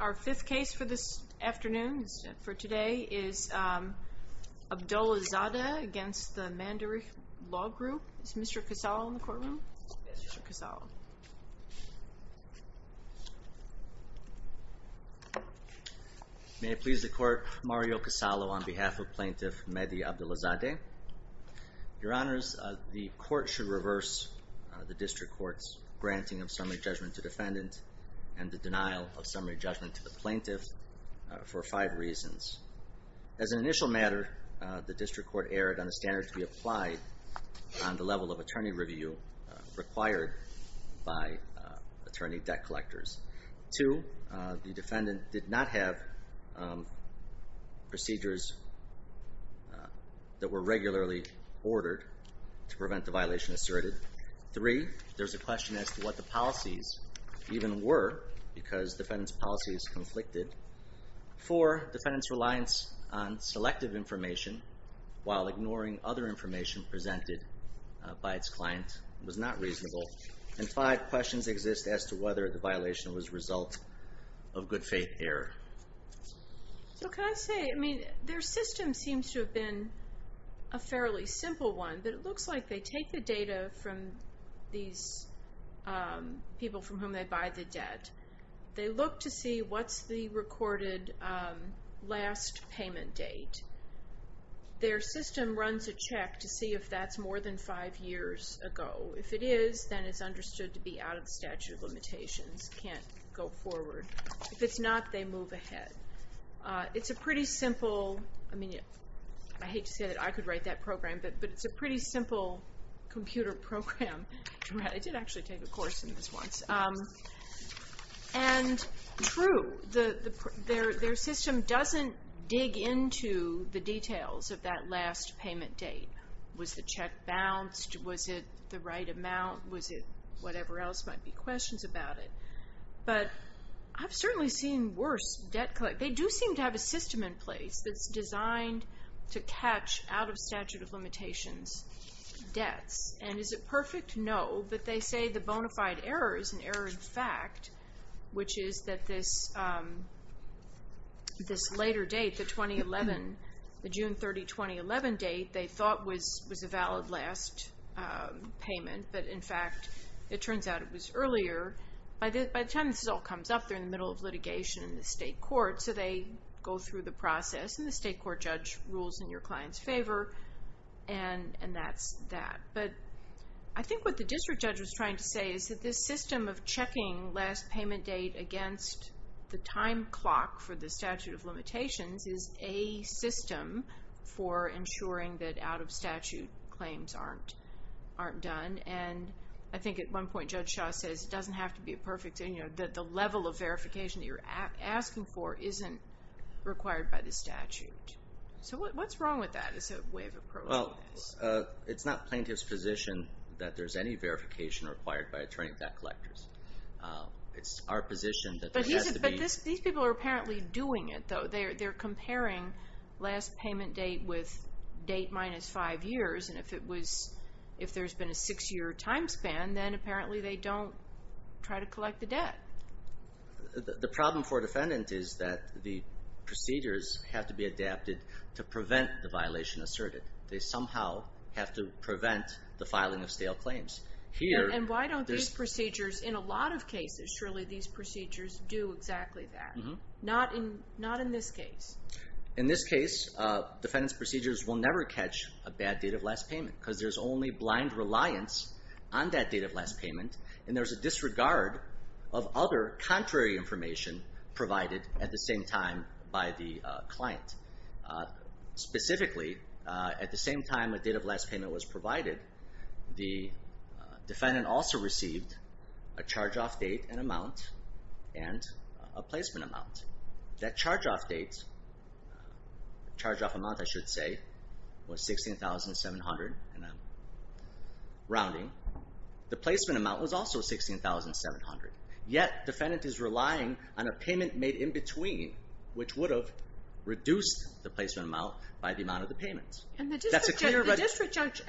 Our fifth case for this afternoon, for today, is Abdollahzadeh against the Mandarich Law Group. Is Mr. Casalo in the courtroom? Yes, Mr. Casalo. May it please the Court, Mario Casalo on behalf of Plaintiff Mehdi Abdollahzadeh. Your Honors, the Court should reverse the District Court's granting of summary judgment to defendant and the denial of summary judgment to the plaintiff for five reasons. As an initial matter, the District Court erred on the standard to be applied on the level of attorney review required by attorney debt collectors. Two, the defendant did not have procedures that were regularly ordered to prevent the violation asserted. Three, there's a question as to what the policies even were, because defendant's policy is conflicted. Four, defendant's reliance on selective information while ignoring other information presented by its client was not reasonable. And five, questions exist as to whether the violation was a result of good faith error. So can I say, I mean, their system seems to have been a fairly simple one, but it looks like they take the data from these people from whom they buy the debt. They look to see what's the recorded last payment date. Their system runs a check to see if that's more than five years ago. If it is, then it's understood to be out of statute of limitations, can't go forward. If it's not, they move ahead. It's a pretty simple, I mean, I hate to say that I could write that program, but it's a pretty simple computer program. I did actually take a course in this once. And true, their system doesn't dig into the details of that last payment date. Was the check bounced? Was it the right amount? Was it whatever else might be questions about it? But I've certainly seen worse debt collection. But they do seem to have a system in place that's designed to catch out of statute of limitations debts. And is it perfect? No, but they say the bona fide error is an error in fact, which is that this later date, the 2011, the June 30, 2011 date, they thought was a valid last payment, but, in fact, it turns out it was earlier. By the time this all comes up, they're in the middle of litigation in the state court. So they go through the process, and the state court judge rules in your client's favor, and that's that. But I think what the district judge was trying to say is that this system of checking last payment date against the time clock for the statute of limitations is a system for ensuring that out of statute claims aren't done. And I think at one point Judge Shaw says it doesn't have to be perfect, that the level of verification that you're asking for isn't required by the statute. So what's wrong with that as a way of approaching this? Well, it's not plaintiff's position that there's any verification required by attorney debt collectors. It's our position that there has to be. But these people are apparently doing it, though. They're comparing last payment date with date minus five years. And if there's been a six-year time span, then apparently they don't try to collect the debt. The problem for a defendant is that the procedures have to be adapted to prevent the violation asserted. They somehow have to prevent the filing of stale claims. And why don't these procedures in a lot of cases, surely these procedures do exactly that? Not in this case. In this case, defendant's procedures will never catch a bad date of last payment because there's only blind reliance on that date of last payment, and there's a disregard of other contrary information provided at the same time by the client. Specifically, at the same time a date of last payment was provided, the defendant also received a charge-off date, an amount, and a placement amount. That charge-off date, charge-off amount I should say, was $16,700, and I'm rounding. The placement amount was also $16,700. Yet defendant is relying on a payment made in between, which would have reduced the placement amount by the amount of the payment. And the district judge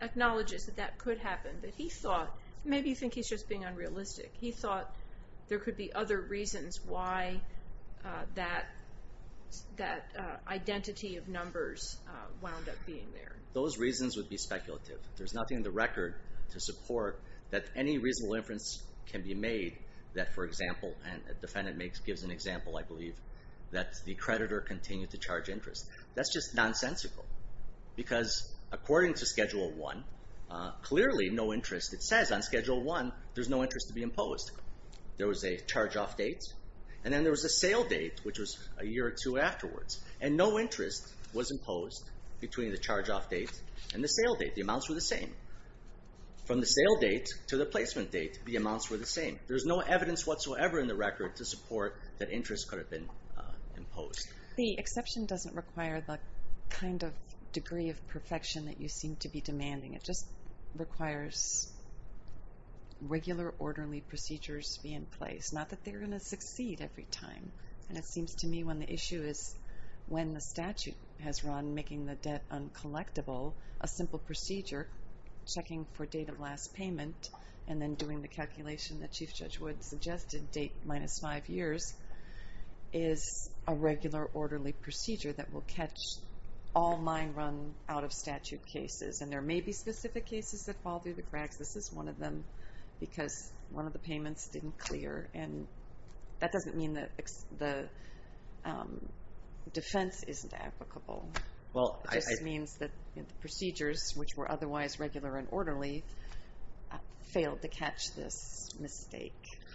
acknowledges that that could happen, that he thought, maybe you think he's just being unrealistic, he thought there could be other reasons why that identity of numbers wound up being there. Those reasons would be speculative. There's nothing in the record to support that any reasonable inference can be made that, for example, and the defendant gives an example, I believe, that the creditor continued to charge interest. That's just nonsensical because according to Schedule I, clearly no interest. It says on Schedule I there's no interest to be imposed. There was a charge-off date, and then there was a sale date, which was a year or two afterwards, and no interest was imposed between the charge-off date and the sale date. The amounts were the same. From the sale date to the placement date, the amounts were the same. There's no evidence whatsoever in the record to support that interest could have been imposed. The exception doesn't require the kind of degree of perfection that you seem to be demanding. It just requires regular, orderly procedures to be in place, not that they're going to succeed every time. And it seems to me when the issue is when the statute has run making the debt uncollectible, a simple procedure, checking for date of last payment and then doing the calculation that Chief Judge Wood suggested, date minus five years, is a regular, orderly procedure that will catch all mine run out-of-statute cases. And there may be specific cases that fall through the cracks. This is one of them because one of the payments didn't clear. And that doesn't mean that the defense isn't applicable. It just means that the procedures, which were otherwise regular and orderly, failed to catch this mistake.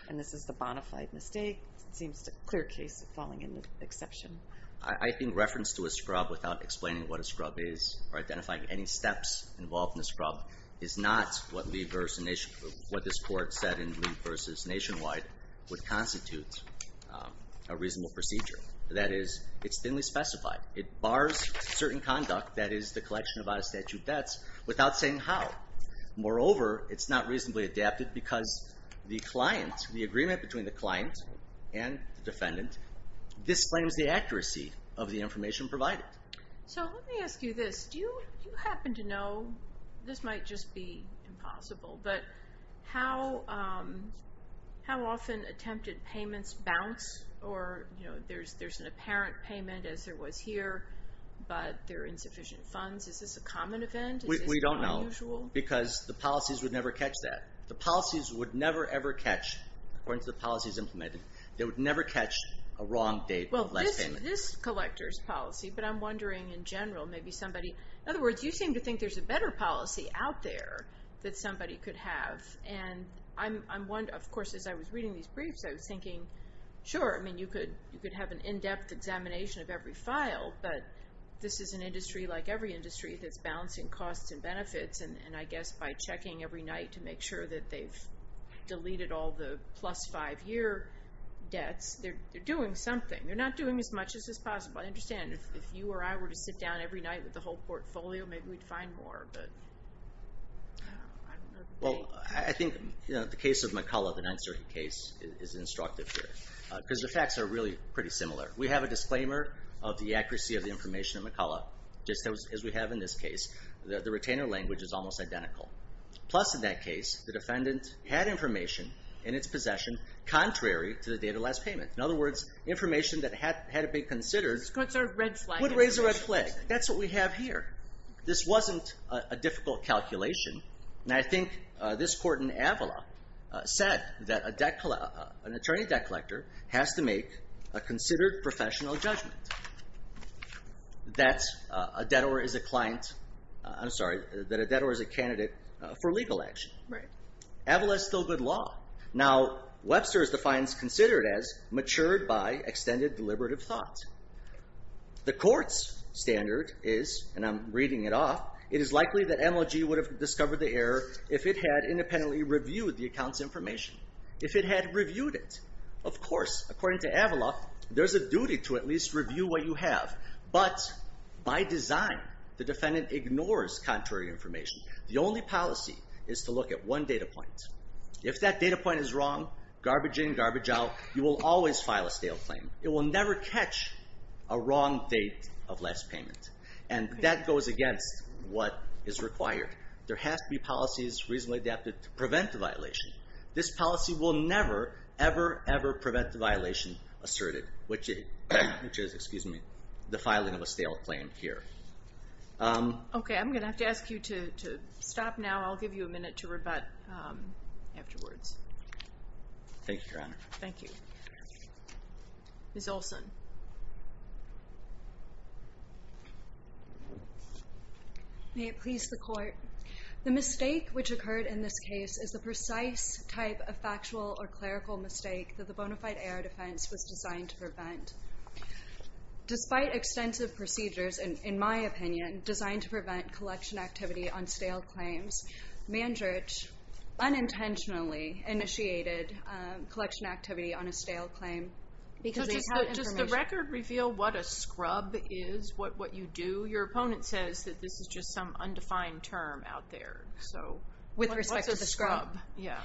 And this is the bonafide mistake. It seems a clear case of falling in the exception. I think reference to a scrub without explaining what a scrub is or identifying any steps involved in a scrub is not what this Court said in Lee v. Nationwide would constitute a reasonable procedure. That is, it's thinly specified. It bars certain conduct, that is, the collection of out-of-statute debts, without saying how. Moreover, it's not reasonably adapted because the client, the agreement between the client and the defendant, disclaims the accuracy of the information provided. So let me ask you this. Do you happen to know, this might just be impossible, but how often attempted payments bounce? Or there's an apparent payment, as there was here, but there are insufficient funds. Is this a common event? We don't know because the policies would never catch that. The policies would never, ever catch, according to the policies implemented, they would never catch a wrong date of last payment. Well, this collector's policy, but I'm wondering in general, maybe somebody. In other words, you seem to think there's a better policy out there that somebody could have. And, of course, as I was reading these briefs, I was thinking, sure, you could have an in-depth examination of every file, but this is an industry, like every industry, that's balancing costs and benefits. And I guess by checking every night to make sure that they've deleted all the plus five-year debts, they're doing something. They're not doing as much as is possible. I understand if you or I were to sit down every night with the whole portfolio, maybe we'd find more, but I don't know. Well, I think the case of McCullough, the 930 case, is instructive here because the facts are really pretty similar. We have a disclaimer of the accuracy of the information of McCullough, just as we have in this case. The retainer language is almost identical. Plus, in that case, the defendant had information in its possession contrary to the date of last payment. In other words, information that had to be considered would raise a red flag. That's what we have here. This wasn't a difficult calculation. Now, I think this court in Avala said that an attorney debt collector has to make a considered professional judgment that a debtor is a client. I'm sorry, that a debtor is a candidate for legal action. Avala is still good law. Now, Webster defines considered as matured by extended deliberative thought. The court's standard is, and I'm reading it off, it is likely that MLG would have discovered the error if it had independently reviewed the account's information. If it had reviewed it. Of course, according to Avala, there's a duty to at least review what you have. But, by design, the defendant ignores contrary information. The only policy is to look at one data point. If that data point is wrong, garbage in, garbage out. You will always file a stale claim. It will never catch a wrong date of last payment. And that goes against what is required. There has to be policies reasonably adapted to prevent the violation. This policy will never, ever, ever prevent the violation asserted. Which is, excuse me, the filing of a stale claim here. Okay, I'm going to have to ask you to stop now. I'll give you a minute to rebut afterwards. Thank you, Your Honor. Thank you. Ms. Olson. May it please the Court. The mistake which occurred in this case is the precise type of factual or clerical mistake that the bona fide AR defense was designed to prevent. Despite extensive procedures, in my opinion, designed to prevent collection activity on stale claims, Mandritch unintentionally initiated collection activity on a stale claim. Does the record reveal what a scrub is, what you do? Your opponent says that this is just some undefined term out there. With respect to the scrub? Yeah.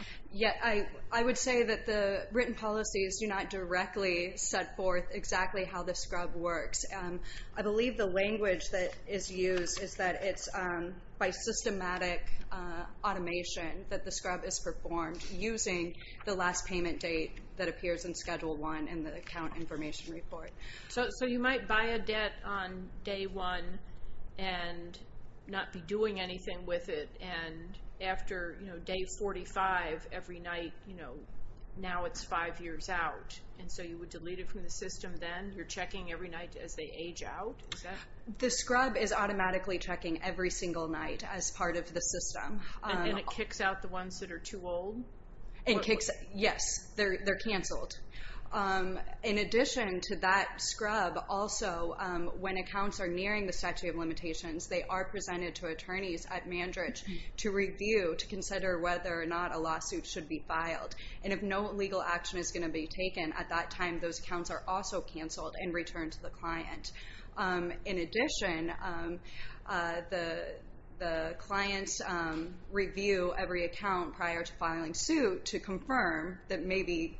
I would say that the written policies do not directly set forth exactly how the scrub works. I believe the language that is used is that it's by systematic automation that the scrub is performed using the last payment date that appears in Schedule 1 in the account information report. So you might buy a debt on day one and not be doing anything with it, and after day 45, every night, now it's five years out. And so you would delete it from the system then? You're checking every night as they age out? The scrub is automatically checking every single night as part of the system. And then it kicks out the ones that are too old? Yes, they're canceled. In addition to that scrub, also, when accounts are nearing the statute of limitations, they are presented to attorneys at Mandritch to review, to consider whether or not a lawsuit should be filed. And if no legal action is going to be taken at that time, those accounts are also canceled and returned to the client. In addition, the clients review every account prior to filing suit to confirm that maybe,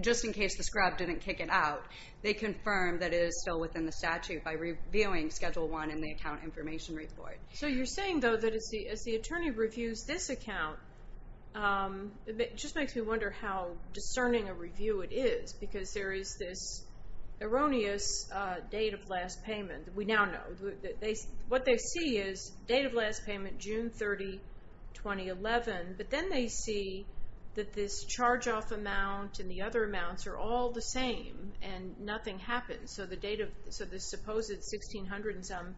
just in case the scrub didn't kick it out, they confirm that it is still within the statute by reviewing Schedule 1 in the account information report. So you're saying, though, that as the attorney reviews this account, it just makes me wonder how discerning a review it is, because there is this erroneous date of last payment that we now know. What they see is date of last payment, June 30, 2011. But then they see that this charge-off amount and the other amounts are all the same and nothing happens. So the supposed 1,600-and-some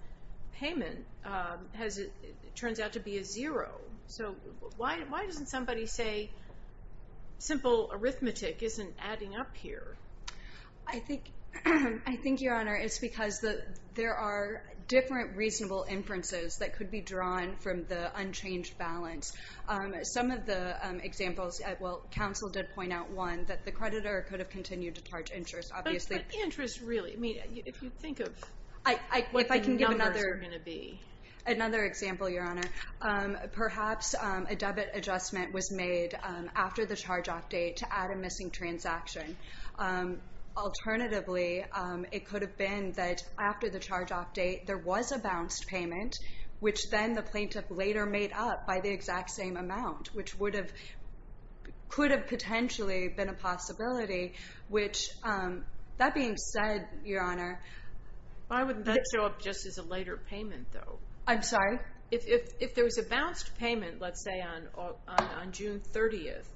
payment turns out to be a zero. So why doesn't somebody say simple arithmetic isn't adding up here? I think, Your Honor, it's because there are different reasonable inferences that could be drawn from the unchanged balance. Some of the examples, well, counsel did point out one, that the creditor could have continued to charge interest, obviously. But interest really? I mean, if you think of what the numbers are going to be. Another example, Your Honor. Perhaps a debit adjustment was made after the charge-off date to add a missing transaction. Alternatively, it could have been that after the charge-off date, there was a bounced payment, which then the plaintiff later made up by the exact same amount, which could have potentially been a possibility. That being said, Your Honor. Why wouldn't that show up just as a later payment, though? I'm sorry? If there was a bounced payment, let's say, on June 30th,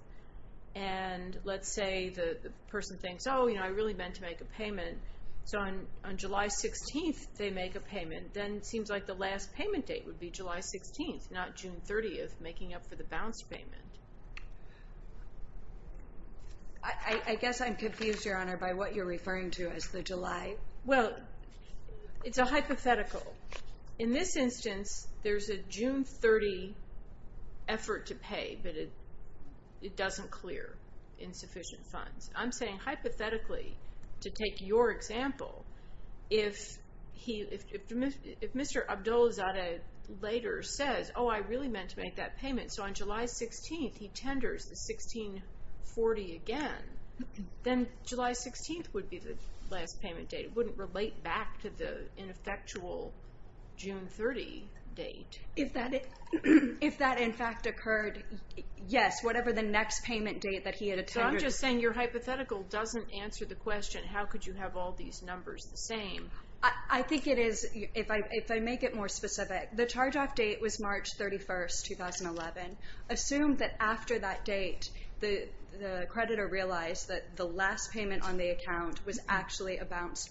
and let's say the person thinks, oh, I really meant to make a payment, so on July 16th they make a payment, then it seems like the last payment date would be July 16th, not June 30th, making up for the bounced payment. I guess I'm confused, Your Honor, by what you're referring to as the July. Well, it's a hypothetical. In this instance, there's a June 30 effort to pay, but it doesn't clear insufficient funds. I'm saying hypothetically, to take your example, if Mr. Abdulzadeh later says, oh, I really meant to make that payment, so on July 16th he tenders the 1640 again, then July 16th would be the last payment date. It wouldn't relate back to the ineffectual June 30 date. If that, in fact, occurred, yes, whatever the next payment date that he had attended. So I'm just saying your hypothetical doesn't answer the question, how could you have all these numbers the same? I think it is, if I make it more specific, the charge-off date was March 31st, 2011. Assume that after that date the creditor realized that the last payment on the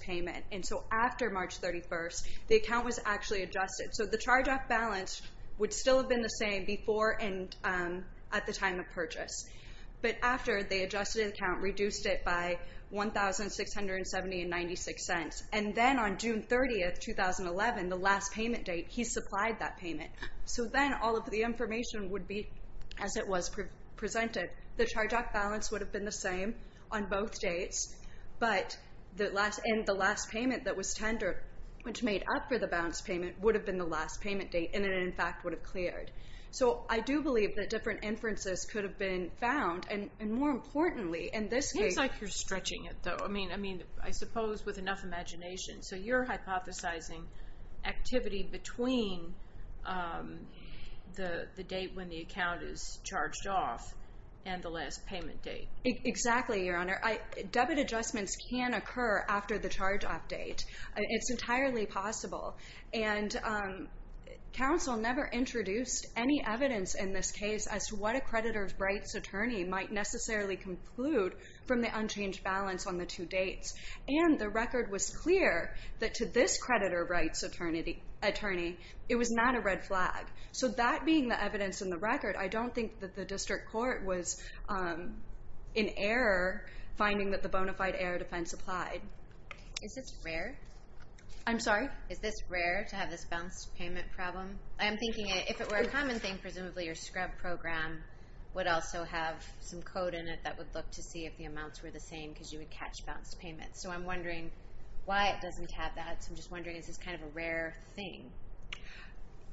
payment, and so after March 31st, the account was actually adjusted. So the charge-off balance would still have been the same before and at the time of purchase. But after they adjusted the account, reduced it by $1,670.96, and then on June 30th, 2011, the last payment date, he supplied that payment. So then all of the information would be as it was presented. The charge-off balance would have been the same on both dates, and the last payment that was tendered, which made up for the balance payment, would have been the last payment date, and it, in fact, would have cleared. So I do believe that different inferences could have been found, and more importantly in this case. It seems like you're stretching it, though. I mean, I suppose with enough imagination. So you're hypothesizing activity between the date when the account is charged off and the last payment date. Exactly, Your Honor. Debit adjustments can occur after the charge-off date. It's entirely possible. And counsel never introduced any evidence in this case as to what a creditor's rights attorney might necessarily conclude from the unchanged balance on the two dates. And the record was clear that to this creditor rights attorney, it was not a red flag. So that being the evidence in the record, I don't think that the district court was in error finding that the bona fide error defense applied. Is this rare? I'm sorry? Is this rare to have this balanced payment problem? I'm thinking if it were a common thing, presumably your scrub program would also have some code in it that would look to see if the amounts were the same because you would catch balanced payments. So I'm wondering why it doesn't have that. So I'm just wondering, is this kind of a rare thing?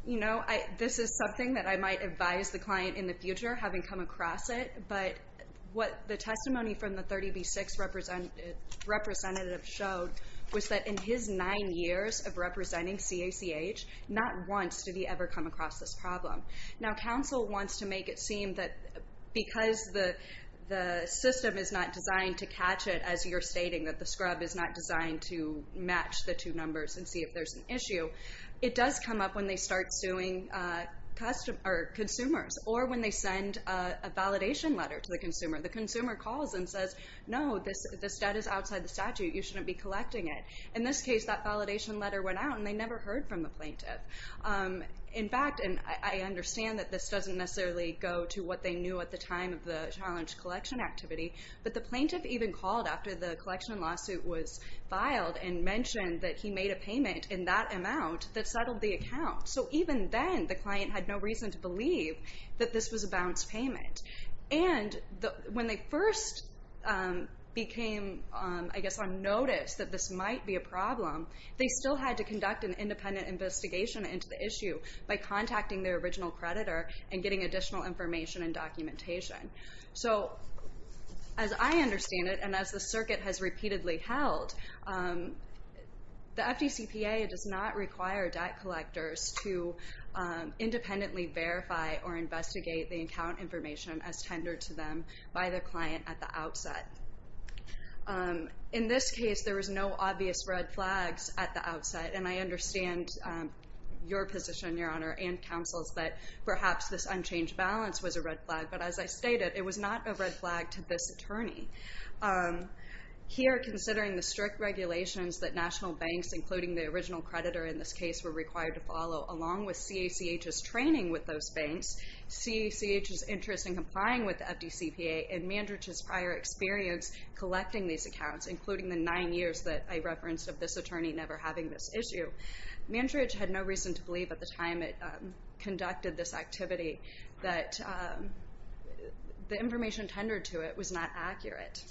You know, this is something that I might advise the client in the future, having come across it. But what the testimony from the 30B6 representative showed was that in his nine years of representing CACH, not once did he ever come across this problem. Now counsel wants to make it seem that because the system is not designed to catch it, as you're stating, that the scrub is not designed to match the two numbers and see if there's an issue, it does come up when they start suing consumers or when they send a validation letter to the consumer. The consumer calls and says, No, this debt is outside the statute, you shouldn't be collecting it. In this case, that validation letter went out and they never heard from the plaintiff. In fact, and I understand that this doesn't necessarily go to what they knew at the time of the challenge collection activity, but the plaintiff even called after the collection lawsuit was filed and mentioned that he made a payment in that amount that settled the account. So even then, the client had no reason to believe that this was a bounced payment. And when they first became, I guess, unnoticed that this might be a problem, they still had to conduct an independent investigation into the issue by contacting their original creditor and getting additional information and documentation. So as I understand it, and as the circuit has repeatedly held, the FDCPA does not require debt collectors to independently verify or investigate the account information as tendered to them by the client at the outset. In this case, there was no obvious red flags at the outset, and I understand your position, Your Honor, and counsel's, that perhaps this unchanged balance was a red flag, but as I stated, it was not a red flag to this attorney. Here, considering the strict regulations that national banks, including the original creditor in this case, were required to follow, along with CACH's training with those banks, CACH's interest in complying with the FDCPA, and Mandridge's prior experience collecting these accounts, including the nine years that I referenced of this attorney never having this issue, Mandridge had no reason to believe at the time it conducted this activity that the information tendered to it was not accurate.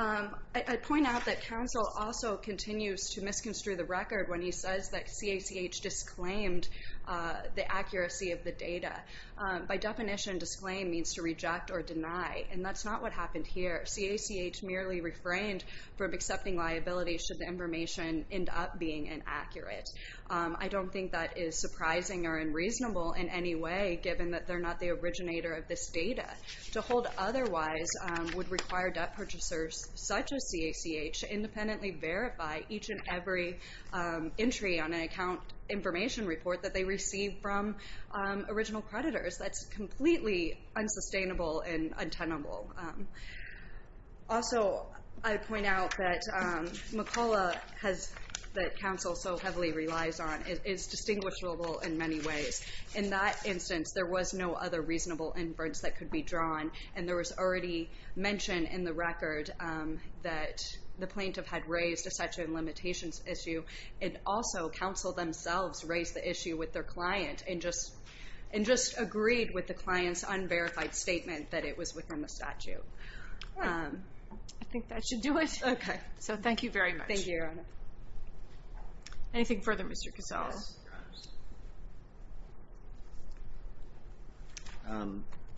I'd point out that counsel also continues to misconstrue the record when he says that CACH disclaimed the accuracy of the data. By definition, disclaim means to reject or deny, and that's not what happened here. CACH merely refrained from accepting liability should the information end up being inaccurate. I don't think that is surprising or unreasonable in any way, given that they're not the originator of this data. To hold otherwise would require debt purchasers such as CACH to independently verify each and every entry on an account information report that they received from original creditors. That's completely unsustainable and untenable. Also, I'd point out that McCulloch, that counsel so heavily relies on, is distinguishable in many ways. In that instance, there was no other reasonable inference that could be drawn, and there was already mention in the record that the plaintiff had raised a statute of limitations issue, and also counsel themselves raised the issue with their client and just agreed with the client's unverified statement that it was within the statute. I think that should do it. Thank you, Your Honor. Anything further, Mr. Casale?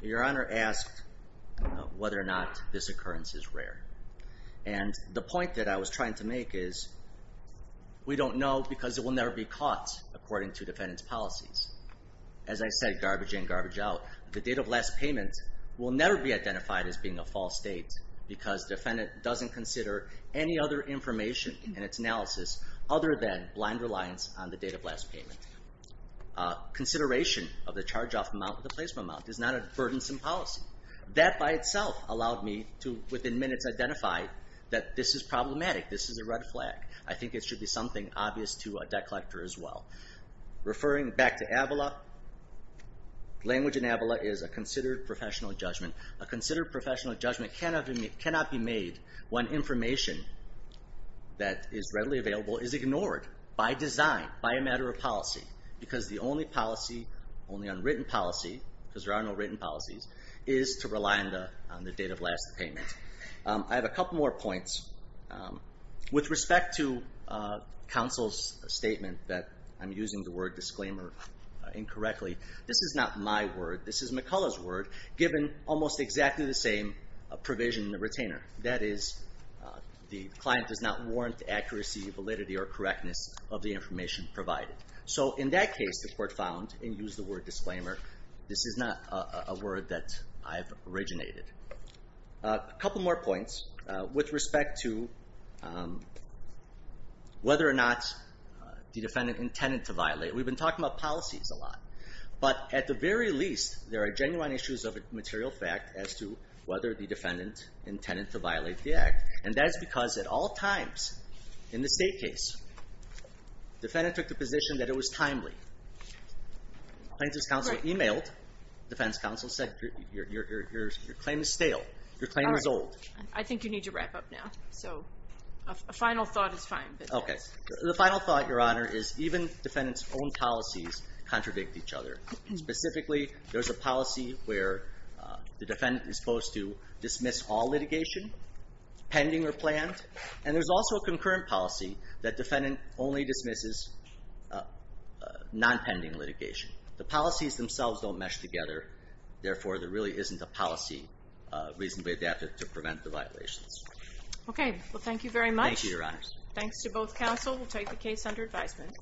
Your Honor asked whether or not this occurrence is rare, and the point that I was trying to make is we don't know because it will never be caught according to defendant's policies. As I said, garbage in, garbage out. The date of last payment will never be identified as being a false date because defendant doesn't consider any other information in its analysis other than blind reliance on the date of last payment. Consideration of the charge off amount of the placement amount is not a burdensome policy. That by itself allowed me to, within minutes, identify that this is problematic, this is a red flag. I think it should be something obvious to a debt collector as well. Referring back to Avala, language in Avala is a considered professional judgment. A considered professional judgment cannot be made when information that is readily available is ignored by design, by a matter of policy, because the only policy, only on written policy, because there are no written policies, is to rely on the date of last payment. I have a couple more points. With respect to counsel's statement that I'm using the word disclaimer incorrectly, this is not my word, this is McCullough's word, given almost exactly the same provision in the retainer. That is, the client does not warrant the accuracy, validity, or correctness of the information provided. So in that case, the court found, and used the word disclaimer, this is not a word that I've originated. A couple more points. With respect to whether or not the defendant intended to violate, we've been talking about policies a lot, but at the very least, there are genuine issues of material fact as to whether the defendant intended to violate the act. And that is because at all times in the state case, defendant took the position that it was timely. Plaintiff's counsel emailed, defense counsel said, your claim is stale, your claim is old. I think you need to wrap up now. So a final thought is fine. Okay. The final thought, Your Honor, is even defendant's own policies contradict each other. Specifically, there's a policy where the defendant is supposed to dismiss all litigation, pending or planned, and there's also a concurrent policy that defendant only dismisses non-pending litigation. The policies themselves don't mesh together, therefore there really isn't a policy reasonably adapted to prevent the violations. Okay. Well, thank you very much. Thank you, Your Honor. Thanks to both counsel. We'll take the case under advisement.